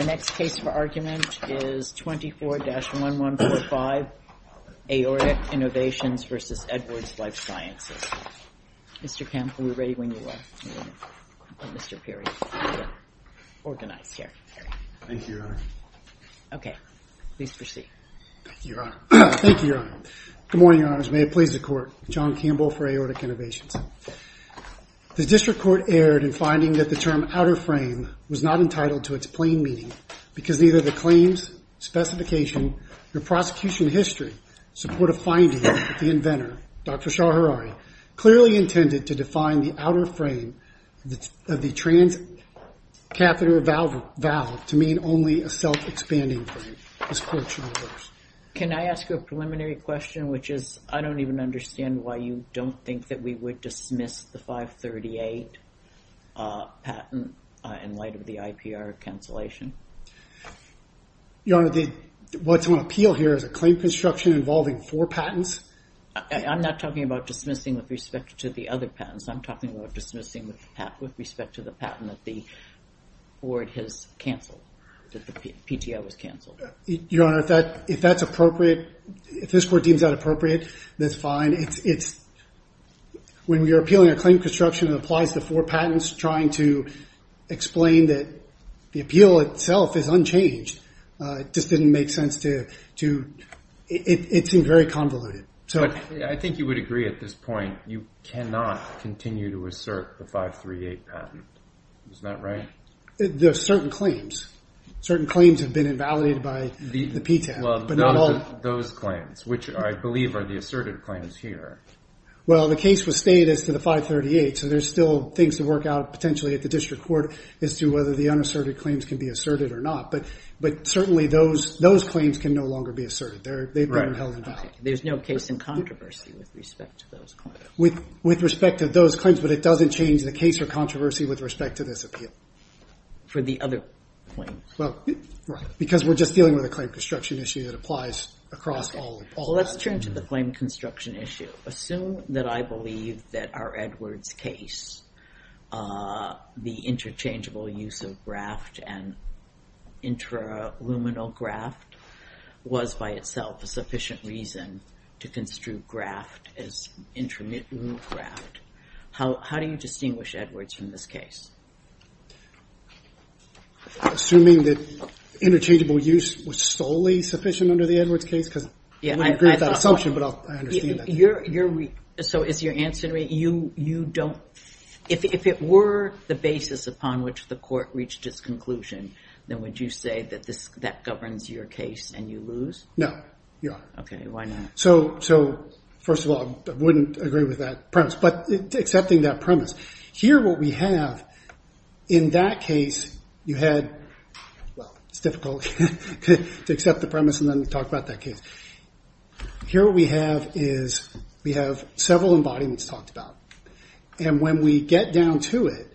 The next case for argument is 24-1145, Aortic Innovations v. Edwards Lifesciences. Mr. Campbell, we're ready when you are. Mr. Perry, you're organized here. Thank you, Your Honor. Okay, please proceed. Thank you, Your Honor. Good morning, Your Honors. May it please the Court. John Campbell for Aortic Innovations. The District Court erred in finding that the term outer frame was not entitled to its plain meaning because neither the claims, specification, or prosecution history support a finding that the inventor, Dr. Shaharari, clearly intended to define the outer frame of the transcatheter valve to mean only a self-expanding frame. This Court shall reverse. Can I ask a preliminary question, which is I don't even understand why you don't think that we would dismiss the 538 patent in light of the IPR cancellation? Your Honor, what's on appeal here is a claim construction involving four patents. I'm not talking about dismissing with respect to the other patents. I'm talking about dismissing with respect to the patent that the board has canceled, that the PTO has canceled. Your Honor, if that's appropriate, if this Court deems that appropriate, that's fine. When you're appealing a claim construction that applies to four patents, trying to explain that the appeal itself is unchanged, it just didn't make sense to, it seemed very convoluted. I think you would agree at this point, you cannot continue to assert the 538 patent. Isn't that right? There are certain claims. Certain claims have been invalidated by the PTO. Those claims, which I believe are the asserted claims here. Well, the case was stated as to the 538, so there's still things to work out potentially at the district court as to whether the unasserted claims can be asserted or not. But certainly those claims can no longer be asserted. They've been held invalid. There's no case in controversy with respect to those claims. With respect to those claims, but it doesn't change the case or controversy with respect to this appeal. For the other claims. Right. Because we're just dealing with a claim construction issue that applies across all of them. Let's turn to the claim construction issue. Assume that I believe that our Edwards case, the interchangeable use of graft and intraluminal graft was by itself a sufficient reason to construe graft as intermittent graft. How do you distinguish Edwards from this case? Assuming that interchangeable use was solely sufficient under the Edwards case? I wouldn't agree with that assumption, but I understand that. So is your answer to me, if it were the basis upon which the court reached its conclusion, then would you say that that governs your case and you lose? No. Okay, why not? So, first of all, I wouldn't agree with that premise. But accepting that premise. Here what we have, in that case, you had, well, it's difficult to accept the premise and then talk about that case. Here what we have is, we have several embodiments talked about. And when we get down to it,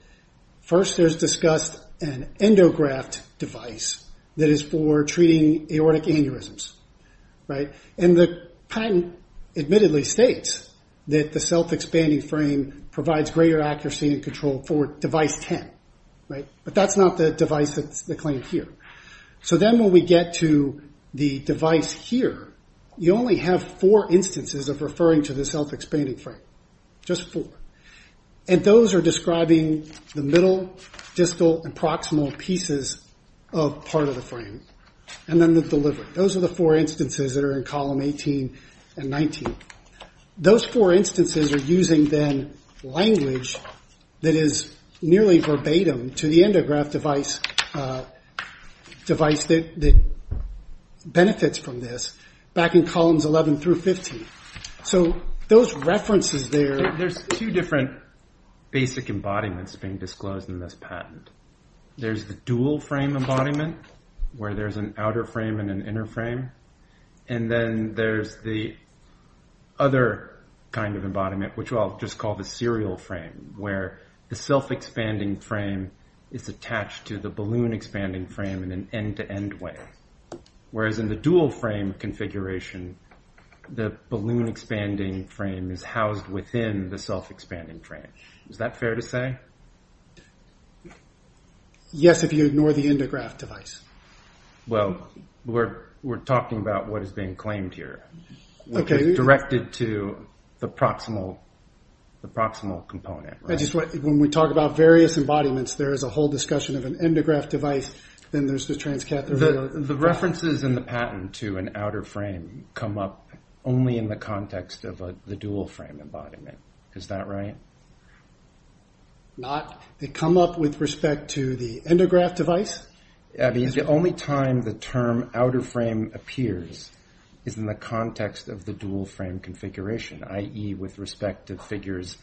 first there's discussed an endograft device that is for treating aortic aneurysms. And the patent admittedly states that the self-expanding frame provides greater accuracy and control for device 10. But that's not the device that's claimed here. So then when we get to the device here, you only have four instances of referring to the self-expanding frame. Just four. And those are describing the middle, distal, and proximal pieces of part of the frame. And then the delivery. Those are the four instances that are in column 18 and 19. Those four instances are using, then, language that is nearly verbatim to the endograft device that benefits from this, back in columns 11 through 15. So those references there. There's two different basic embodiments being disclosed in this patent. There's the dual-frame embodiment, where there's an outer frame and an inner frame. And then there's the other kind of embodiment, which I'll just call the serial frame, where the self-expanding frame is attached to the balloon-expanding frame in an end-to-end way. Whereas in the dual-frame configuration, the balloon-expanding frame is housed within the self-expanding frame. Is that fair to say? Yes, if you ignore the endograft device. Well, we're talking about what is being claimed here. Okay. Which is directed to the proximal component, right? When we talk about various embodiments, there is a whole discussion of an endograft device, then there's the transcatheter. The references in the patent to an outer frame come up only in the context of the dual-frame embodiment. Is that right? They come up with respect to the endograft device? The only time the term outer frame appears is in the context of the dual-frame configuration, i.e. with respect to figures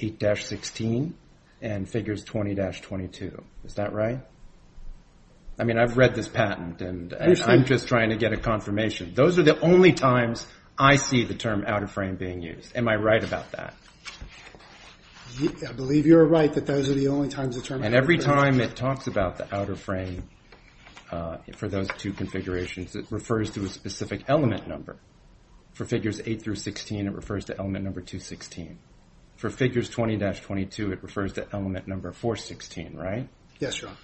8-16 and figures 20-22. Is that right? I mean, I've read this patent, and I'm just trying to get a confirmation. Those are the only times I see the term outer frame being used. Am I right about that? I believe you're right that those are the only times the term outer frame is used. And every time it talks about the outer frame for those two configurations, it refers to a specific element number. For figures 8-16, it refers to element number 216. For figures 20-22, it refers to element number 416, right? Yes, John.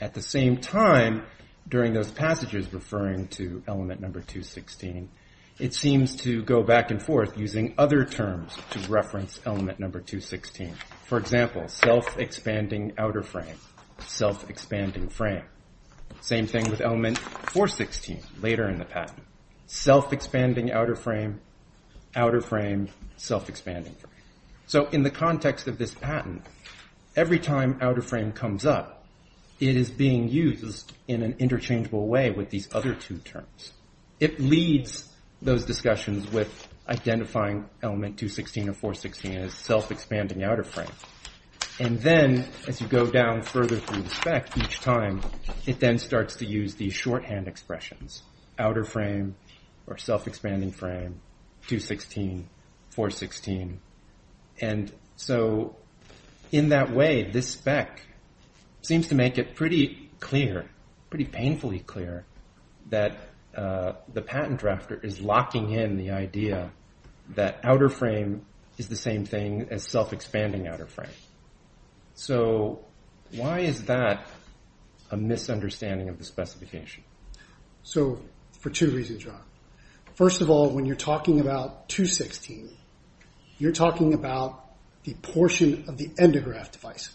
At the same time, during those passages referring to element number 216, it seems to go back and forth using other terms to reference element number 216. For example, self-expanding outer frame, self-expanding frame. Same thing with element 416, later in the patent. Self-expanding outer frame, outer frame, self-expanding frame. So in the context of this patent, every time outer frame comes up, it is being used in an interchangeable way with these other two terms. It leads those discussions with identifying element 216 or 416 as self-expanding outer frame. And then, as you go down further through the spec each time, it then starts to use these shorthand expressions. Outer frame or self-expanding frame, 216, 416. And so in that way, this spec seems to make it pretty clear, pretty painfully clear, that the patent drafter is locking in the idea that outer frame is the same thing as self-expanding outer frame. So why is that a misunderstanding of the specification? So for two reasons, John. First of all, when you're talking about 216, you're talking about the portion of the endograph device.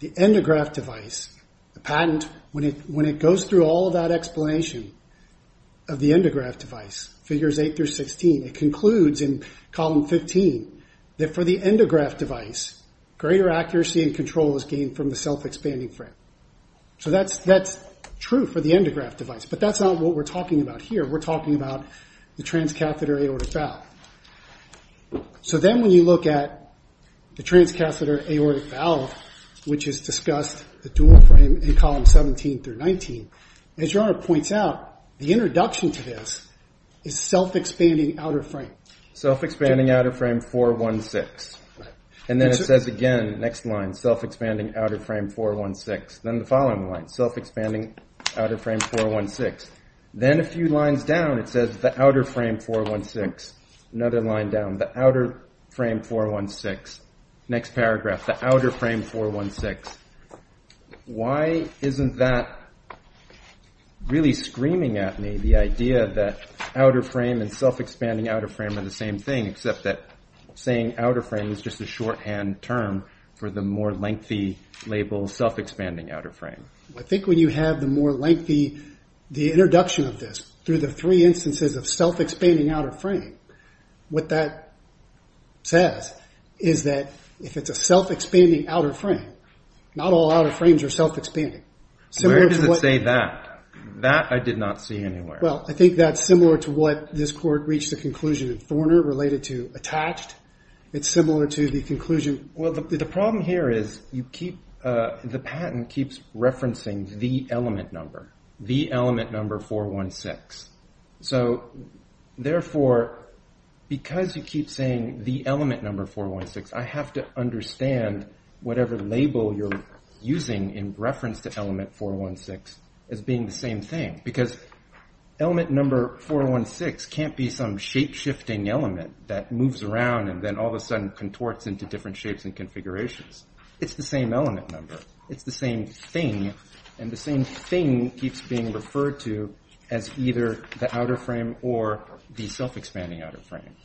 The endograph device, the patent, when it goes through all of that explanation of the endograph device, figures 8 through 16, it concludes in column 15, that for the endograph device, greater accuracy and control is gained from the self-expanding frame. So that's true for the endograph device, but that's not what we're talking about here. We're talking about the transcatheter aortic valve. So then when you look at the transcatheter aortic valve, which is discussed, the dual frame in column 17 through 19, as your Honor points out, the introduction to this is self-expanding outer frame. Self-expanding outer frame 416. And then it says again, next line, self-expanding outer frame 416. Then the following line, self-expanding outer frame 416. Then a few lines down, it says the outer frame 416. Another line down, the outer frame 416. Next paragraph, the outer frame 416. Why isn't that really screaming at me, the idea that outer frame and self-expanding outer frame are the same thing, except that saying outer frame is just a shorthand term for the more lengthy label self-expanding outer frame? I think when you have the more lengthy introduction of this, through the three instances of self-expanding outer frame, what that says is that if it's a self-expanding outer frame, not all outer frames are self-expanding. Where does it say that? That I did not see anywhere. Well, I think that's similar to what this court reached a conclusion in Forner related to attached. It's similar to the conclusion. Well, the problem here is the patent keeps referencing the element number, the element number 416. Therefore, because you keep saying the element number 416, I have to understand whatever label you're using in reference to element 416 as being the same thing. Because element number 416 can't be some shape-shifting element that moves around and then all of a sudden contorts into different shapes and configurations. It's the same element number. It's the same thing. And the same thing keeps being referred to as either the outer frame or the self-expanding outer frame.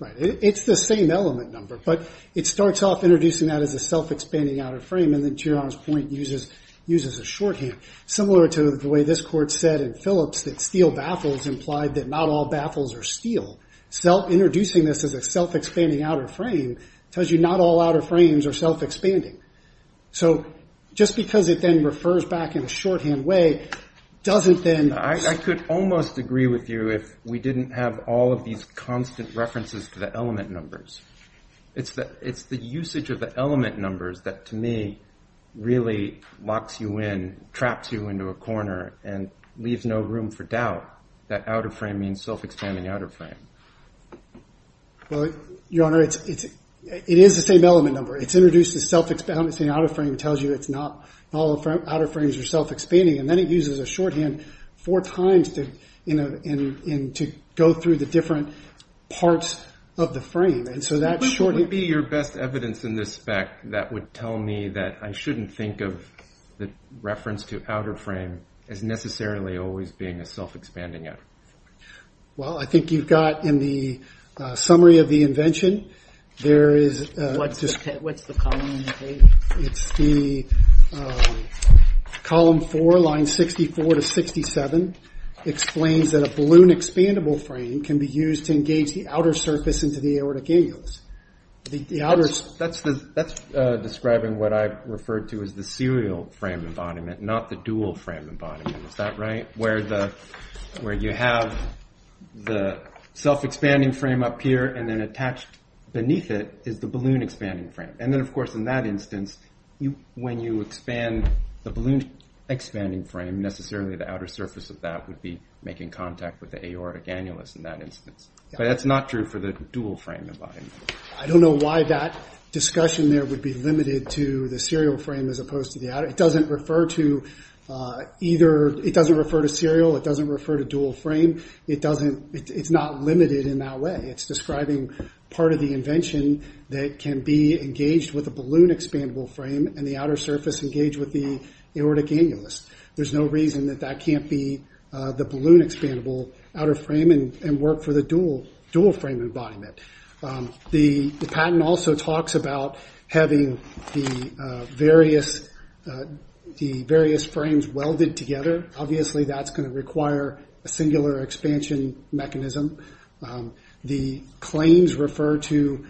Right. It's the same element number. But it starts off introducing that as a self-expanding outer frame. And then to your honest point, uses a shorthand. Similar to the way this court said in Phillips that steel baffles implied that not all baffles are steel. Introducing this as a self-expanding outer frame tells you not all outer frames are self-expanding. So just because it then refers back in a shorthand way doesn't then... I could almost agree with you if we didn't have all of these constant references to the element numbers. It's the usage of the element numbers that to me really locks you in, traps you into a corner, and leaves no room for doubt that outer frame means self-expanding outer frame. Well, Your Honor, it is the same element number. It's introduced as self-expanding outer frame. It tells you not all outer frames are self-expanding. And then it uses a shorthand four times to go through the different parts of the frame. And so that shorthand... What would be your best evidence in this spec that would tell me that I shouldn't think of the reference to outer frame as necessarily always being a self-expanding outer frame? Well, I think you've got in the summary of the invention, there is... What's the column in the paper? It's the column four, line 64 to 67, explains that a balloon expandable frame can be used to engage the outer surface into the aortic annulus. That's describing what I referred to as the serial frame embodiment, not the dual frame embodiment. Is that right? Where you have the self-expanding frame up here and then attached beneath it is the balloon expanding frame. And then, of course, in that instance, when you expand the balloon expanding frame, necessarily the outer surface of that would be making contact with the aortic annulus in that instance. But that's not true for the dual frame embodiment. I don't know why that discussion there would be limited to the serial frame as opposed to the outer. It doesn't refer to serial. It doesn't refer to dual frame. It's not limited in that way. It's describing part of the invention that can be engaged with a balloon expandable frame and the outer surface engaged with the aortic annulus. There's no reason that that can't be the balloon expandable outer frame and work for the dual frame embodiment. The patent also talks about having the various frames welded together. Obviously, that's going to require a singular expansion mechanism. The claims refer to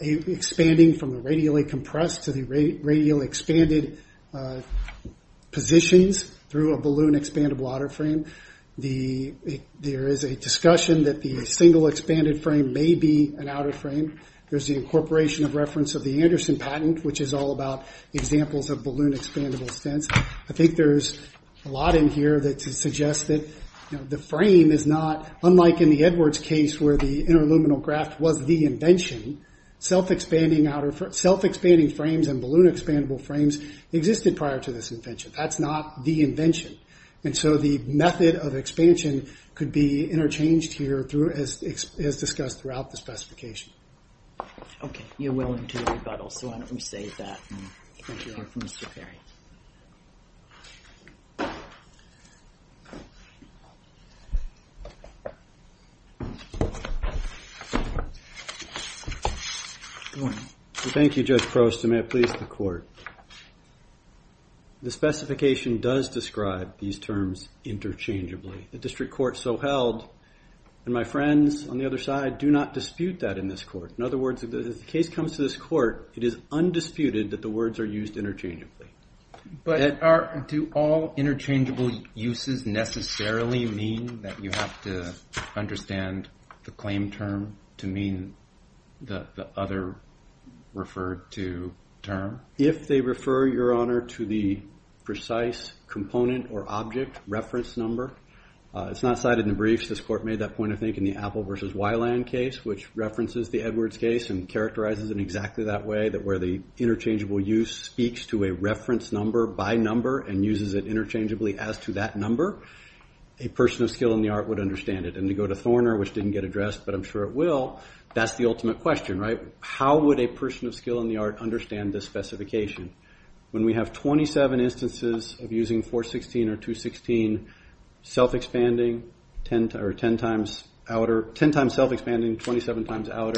expanding from the radially compressed to the radially expanded positions through a balloon expandable outer frame. There is a discussion that the single expanded frame may be an outer frame. There's the incorporation of reference of the Anderson patent, which is all about examples of balloon expandable stents. I think there's a lot in here that suggests that the frame is not, unlike in the Edwards case where the interluminal graft was the invention, self-expanding frames and balloon expandable frames existed prior to this invention. That's not the invention. The method of expansion could be interchanged here as discussed throughout the specification. Okay. You're willing to rebuttal, so why don't we save that. Thank you, Judge Prost, and may it please the Court. The specification does describe these terms interchangeably. The district court so held, and my friends on the other side do not dispute that in this court. In other words, if the case comes to this court, it is undisputed that the words are used interchangeably. Do all interchangeable uses necessarily mean that you have to understand the claim term to mean the other referred to term? If they refer, Your Honor, to the precise component or object reference number, it's not cited in the briefs. This court made that point, I think, in the Apple versus Weiland case, which references the Edwards case and characterizes it exactly that way, that where the interchangeable use speaks to a reference number by number and uses it interchangeably as to that number, a person of skill in the art would understand it. And to go to Thorner, which didn't get addressed, but I'm sure it will, that's the ultimate question, right? How would a person of skill in the art understand this specification? When we have 27 instances of using 416 or 216, 10 times self-expanding, 27 times outer,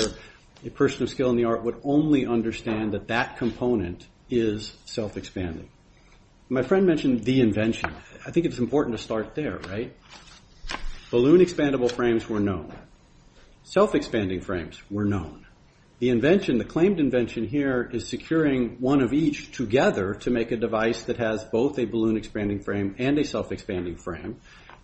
a person of skill in the art would only understand that that component is self-expanding. My friend mentioned the invention. I think it's important to start there, right? Balloon expandable frames were known. Self-expanding frames were known. The invention, the claimed invention here is securing one of each together to make a device that has both a balloon expanding frame and a self-expanding frame.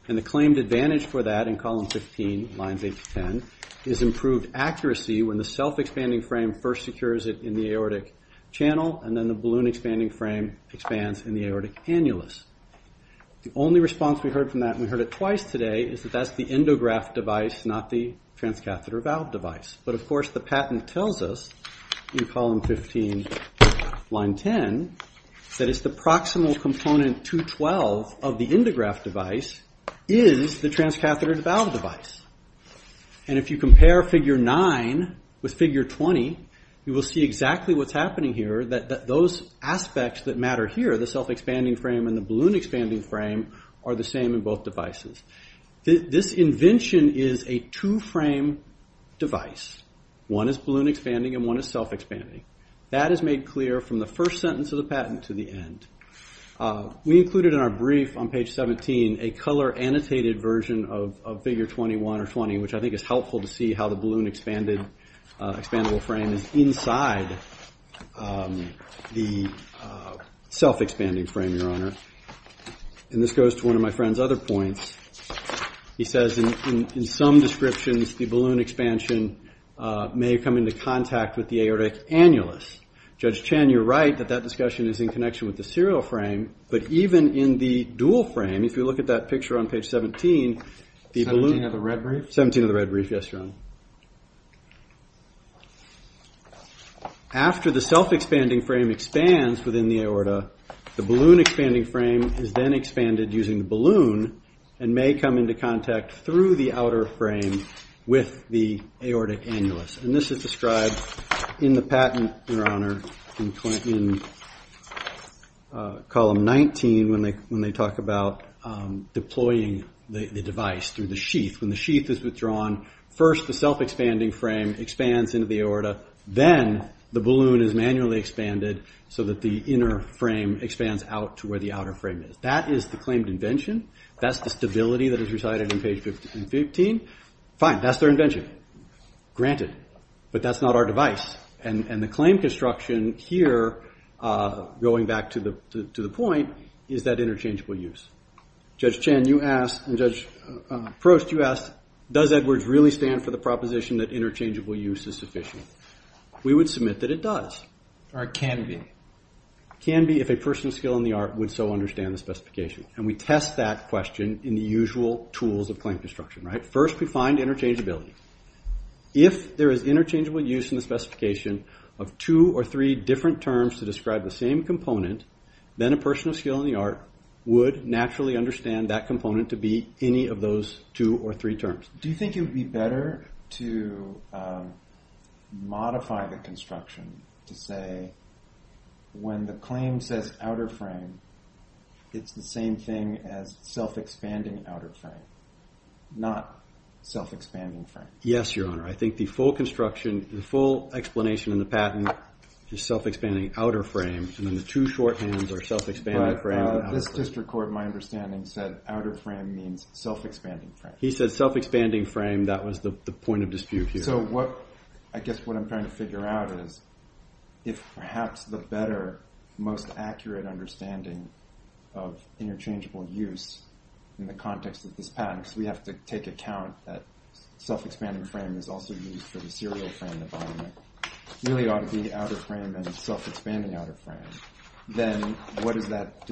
And the claimed advantage for that in column 15, lines 8 to 10, is improved accuracy when the self-expanding frame first secures it in the aortic channel and then the balloon expanding frame expands in the aortic annulus. The only response we heard from that, and we heard it twice today, is that that's the endograph device, not the transcatheter valve device. But, of course, the patent tells us in column 15, line 10, that it's the proximal component 212 of the endograph device is the transcatheter valve device. And if you compare figure 9 with figure 20, you will see exactly what's happening here, that those aspects that matter here, the self-expanding frame and the balloon expanding frame, are the same in both devices. This invention is a two-frame device. One is balloon expanding and one is self-expanding. That is made clear from the first sentence of the patent to the end. We included in our brief on page 17 a color-annotated version of figure 21 or 20, which I think is helpful to see how the balloon expandable frame is inside the self-expanding frame, Your Honor. And this goes to one of my friend's other points. He says, in some descriptions, the balloon expansion may come into contact with the aortic annulus. Judge Chan, you're right that that discussion is in connection with the serial frame, but even in the dual frame, if you look at that picture on page 17, the balloon... 17 of the red brief? 17 of the red brief, yes, Your Honor. After the self-expanding frame expands within the aorta, the balloon expanding frame is then expanded using the balloon and may come into contact through the outer frame with the aortic annulus. And this is described in the patent, Your Honor, in column 19, when they talk about deploying the device through the sheath. When the sheath is withdrawn, first the self-expanding frame expands into the aorta. Then the balloon is manually expanded so that the inner frame expands out to where the outer frame is. That is the claimed invention. That's the stability that is recited in page 15. Fine, that's their invention. Granted. But that's not our device. And the claim construction here, going back to the point, is that interchangeable use. Judge Chan, you asked, and Judge Prost, you asked, does Edwards really stand for the proposition that interchangeable use is sufficient? We would submit that it does. Or it can be. It can be if a person of skill in the art would so understand the specification. And we test that question in the usual tools of claim construction, right? First, we find interchangeability. If there is interchangeable use in the specification of two or three different terms to describe the same component, then a person of skill in the art would naturally understand that component to be any of those two or three terms. Do you think it would be better to modify the construction to say, when the claim says outer frame, it's the same thing as self-expanding outer frame, not self-expanding frame? Yes, Your Honor. I think the full construction, the full explanation in the patent is self-expanding outer frame, and then the two shorthands are self-expanding frame and outer frame. But this district court, my understanding, said outer frame means self-expanding frame. He said self-expanding frame. That was the point of dispute here. So I guess what I'm trying to figure out is if perhaps the better, most accurate understanding of interchangeable use in the context of this patent, because we have to take account that self-expanding frame is also used for the serial frame, it really ought to be outer frame and self-expanding outer frame, then does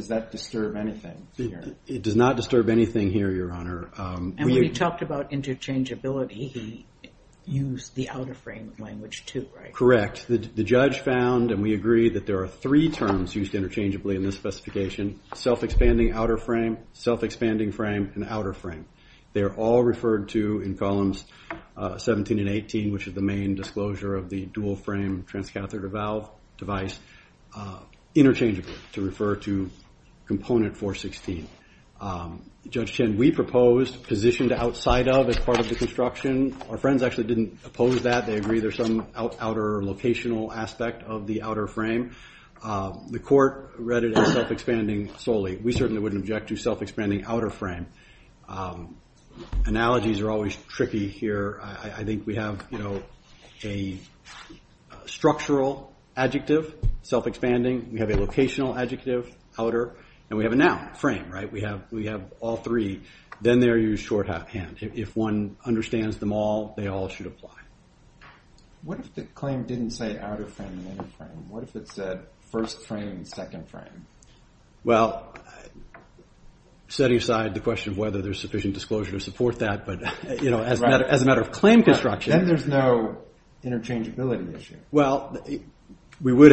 that disturb anything here? It does not disturb anything here, Your Honor. And when he talked about interchangeability, he used the outer frame language too, right? Correct. The judge found, and we agree, that there are three terms used interchangeably in this specification, self-expanding outer frame, self-expanding frame, and outer frame. They are all referred to in columns 17 and 18, which is the main disclosure of the dual frame transcatheter valve device, interchangeably to refer to component 416. Judge Chen, we proposed positioned outside of as part of the construction. Our friends actually didn't oppose that. They agree there's some outer locational aspect of the outer frame. The court read it as self-expanding solely. We certainly wouldn't object to self-expanding outer frame. Analogies are always tricky here. I think we have a structural adjective, self-expanding, we have a locational adjective, outer, and we have a noun, frame, right? We have all three. Then they are used shorthand. If one understands them all, they all should apply. What if the claim didn't say outer frame and inner frame? What if it said first frame and second frame? Well, setting aside the question of whether there's sufficient disclosure to support that, but as a matter of claim construction. Then there's no interchangeability issue. Well, we would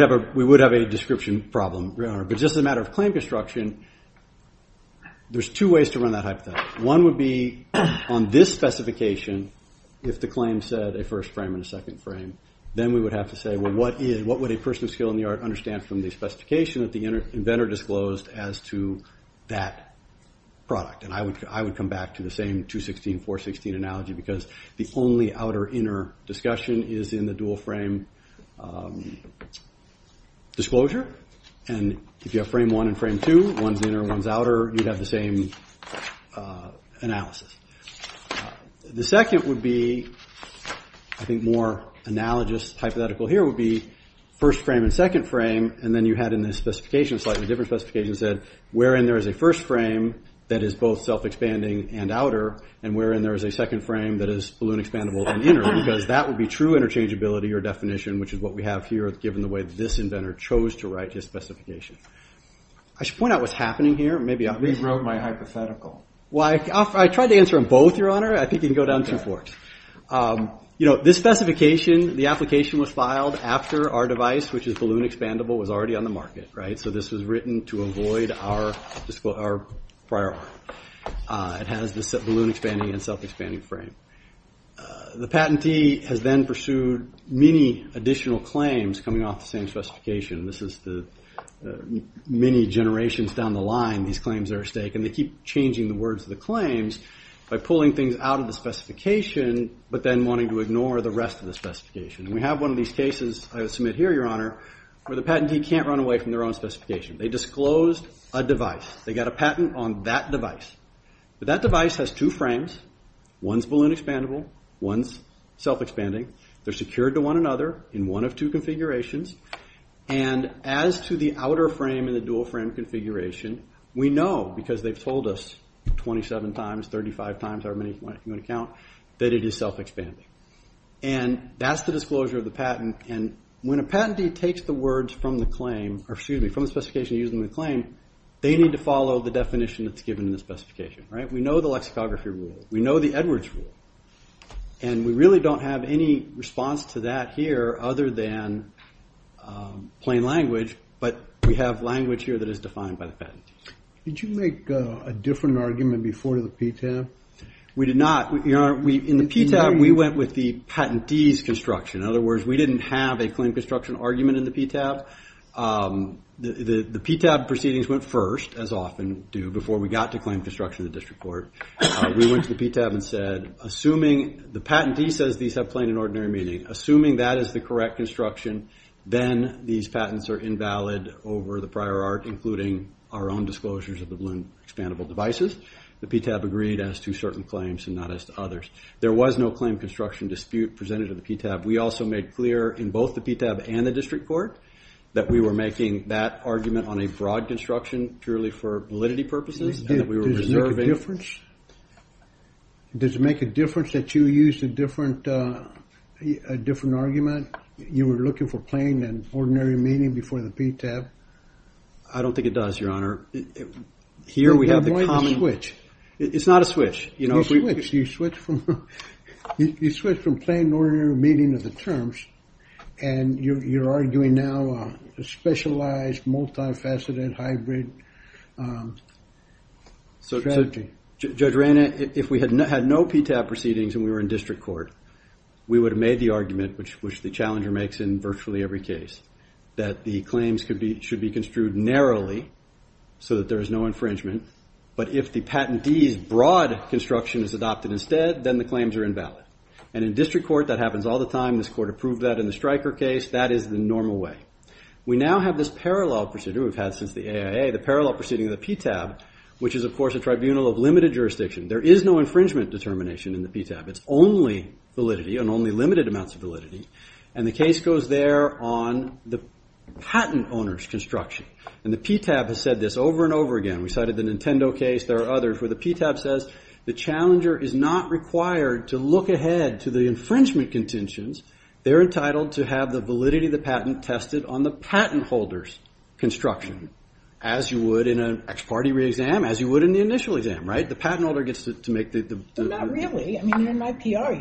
have a description problem, Your Honor, but just as a matter of claim construction, there's two ways to run that hypothesis. One would be on this specification, if the claim said a first frame and a second frame, then we would have to say, well, what would a person of skill in the art understand from the specification that the inventor disclosed as to that product? I would come back to the same 216-416 analogy because the only outer-inner discussion is in the dual frame disclosure. If you have frame one and frame two, one's inner, one's outer, you'd have the same analysis. The second would be, I think more analogous hypothetical here, would be first frame and second frame, and then you had in this specification, a slightly different specification, wherein there is a first frame that is both self-expanding and outer, and wherein there is a second frame that is balloon-expandable and inner because that would be true interchangeability or definition, which is what we have here given the way this inventor chose to write his specification. I should point out what's happening here. You rewrote my hypothetical. I tried to answer them both, Your Honor. I think you can go down two forks. This specification, the application was filed after our device, which is balloon-expandable, was already on the market. So this was written to avoid our prior art. It has the balloon-expanding and self-expanding frame. The patentee has then pursued many additional claims coming off the same specification. This is the many generations down the line these claims are at stake, and they keep changing the words of the claims by pulling things out of the specification but then wanting to ignore the rest of the specification. We have one of these cases I submit here, Your Honor, where the patentee can't run away from their own specification. They disclosed a device. They got a patent on that device. But that device has two frames. One's balloon-expandable, one's self-expanding. They're secured to one another in one of two configurations, and as to the outer frame and the dual-frame configuration, we know because they've told us 27 times, 35 times, however many you want to count, that it is self-expanding. And that's the disclosure of the patent. And when a patentee takes the words from the claim, or excuse me, from the specification used in the claim, they need to follow the definition that's given in the specification. We know the lexicography rule. We know the Edwards rule. And we really don't have any response to that here other than plain language, but we have language here that is defined by the patent. Did you make a different argument before to the PTAB? We did not. In the PTAB, we went with the patentee's construction. In other words, we didn't have a claim construction argument in the PTAB. The PTAB proceedings went first, as often do, before we got to claim construction of the district court. We went to the PTAB and said, assuming the patentee says these have plain and ordinary meaning, assuming that is the correct construction, then these patents are invalid over the prior art, including our own disclosures of the balloon expandable devices. The PTAB agreed as to certain claims and not as to others. There was no claim construction dispute presented to the PTAB. We also made clear in both the PTAB and the district court that we were making that argument on a broad construction purely for validity purposes. Does it make a difference? Does it make a difference that you used a different argument? You were looking for plain and ordinary meaning before the PTAB? I don't think it does, Your Honor. It's not a switch. You switch from plain and ordinary meaning of the terms, and you're arguing now a specialized, multifaceted, hybrid strategy. Judge Reyna, if we had had no PTAB proceedings and we were in district court, we would have made the argument, which the challenger makes in virtually every case, that the claims should be construed narrowly so that there is no infringement, but if the patentee's broad construction is adopted instead, then the claims are invalid. And in district court, that happens all the time. This court approved that in the Stryker case. That is the normal way. We now have this parallel procedure we've had since the AIA, the parallel proceeding of the PTAB, which is, of course, a tribunal of limited jurisdiction. There is no infringement determination in the PTAB. It's only validity and only limited amounts of validity. And the case goes there on the patent owner's construction. And the PTAB has said this over and over again. We cited the Nintendo case. There are others where the PTAB says the challenger is not required to look ahead to the infringement contentions. They're entitled to have the validity of the patent tested on the patent holder's construction, as you would in an ex parte re-exam, as you would in the initial exam, right? The patent holder gets to make the... Not really. I mean, you're in my PR.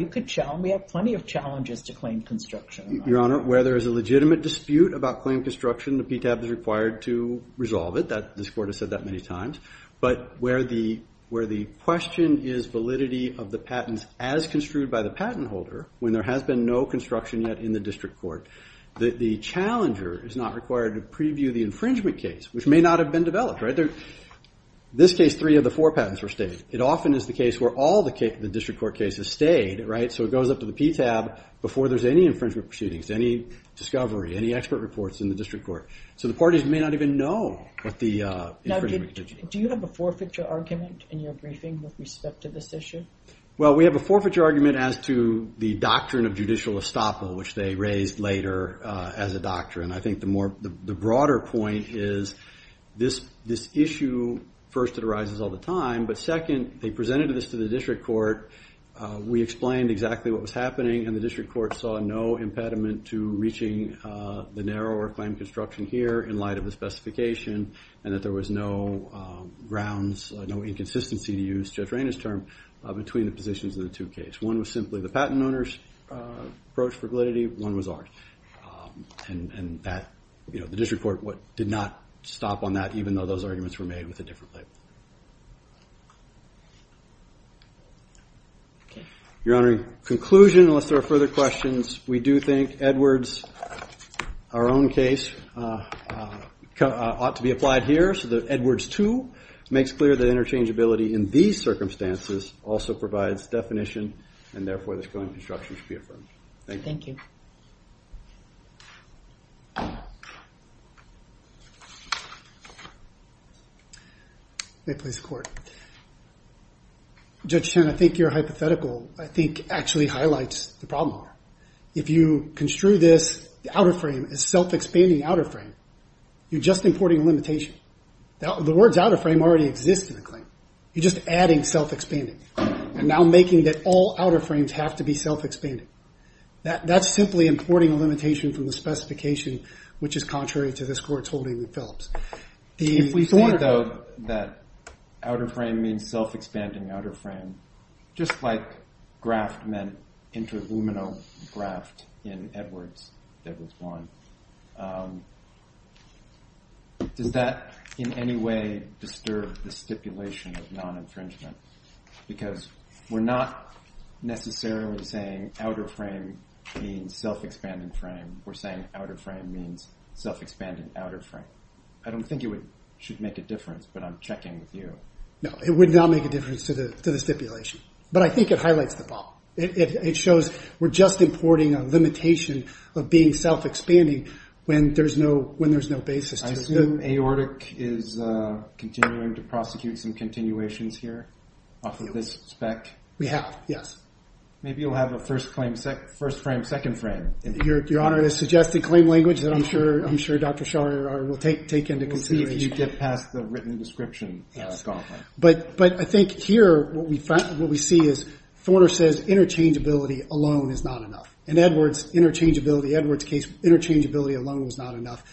We have plenty of challenges to claim construction. Your Honor, where there is a legitimate dispute about claim construction, the PTAB is required to resolve it. This court has said that many times. But where the question is validity of the patents as construed by the patent holder, when there has been no construction yet in the district court, that the challenger is not required to preview the infringement case, which may not have been developed, right? This case, three of the four patents were stayed. It often is the case where all the district court cases stayed, right? So it goes up to the PTAB before there's any infringement proceedings, any discovery, any expert reports in the district court. So the parties may not even know what the infringement... Now, do you have a forfeiture argument in your briefing with respect to this issue? Well, we have a forfeiture argument as to the doctrine of judicial estoppel, which they raised later as a doctrine. I think the broader point is this issue, first, it arises all the time, but second, they presented this to the district court. We explained exactly what was happening, and the district court saw no impediment to reaching the narrower claim construction here in light of the specification, and that there was no grounds, no inconsistency, to use Judge Rainer's term, between the positions of the two cases. One was simply the patent owner's approach for validity, one was ours. And the district court did not stop on that, even though those arguments were made with a different label. Your Honor, in conclusion, unless there are further questions, we do think Edwards, our own case, ought to be applied here, so that Edwards 2 makes clear that interchangeability in these circumstances also provides definition, and therefore this claim construction should be affirmed. Thank you. May it please the Court. Judge Chen, I think your hypothetical, I think, actually highlights the problem. If you construe this, the outer frame, as self-expanding outer frame, you're just importing a limitation. The word's outer frame already exists in the claim. You're just adding self-expanding, and now making that all outer frames have to be self-expanding. That's simply importing a limitation from the specification, which is contrary to this Court's holding in Phillips. If we think, though, that outer frame means self-expanding outer frame, just like graft meant interluminal graft in Edwards, Edwards 1, does that in any way disturb the stipulation of non-infringement? Because we're not necessarily saying outer frame means self-expanding frame. We're saying outer frame means self-expanding outer frame. I don't think it should make a difference, but I'm checking with you. No, it would not make a difference to the stipulation. But I think it highlights the problem. It shows we're just importing a limitation of being self-expanding when there's no basis to it. I assume Aortic is continuing to prosecute some continuations here off of this spec? We have, yes. Maybe you'll have a first claim, first frame, second frame. Your Honor, it is suggested claim language that I'm sure Dr. Shorter will take into consideration. We'll see if you get past the written description, scholar. But I think here what we see is Thorder says interchangeability alone is not enough. In Edwards, interchangeability, Edwards case, interchangeability alone was not enough.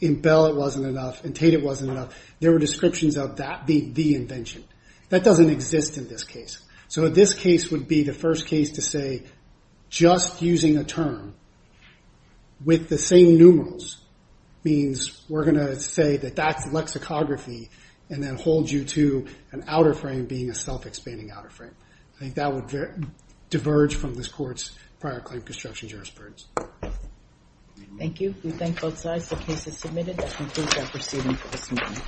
In Bell, it wasn't enough. In Tate, it wasn't enough. There were descriptions of that being the invention. That doesn't exist in this case. So this case would be the first case to say just using a term with the same numerals means we're going to say that that's lexicography and then hold you to an outer frame being a self-expanding outer frame. I think that would diverge from this Court's prior claim construction jurisprudence. Thank you. We thank both sides. The case is submitted. That concludes our proceeding for this morning.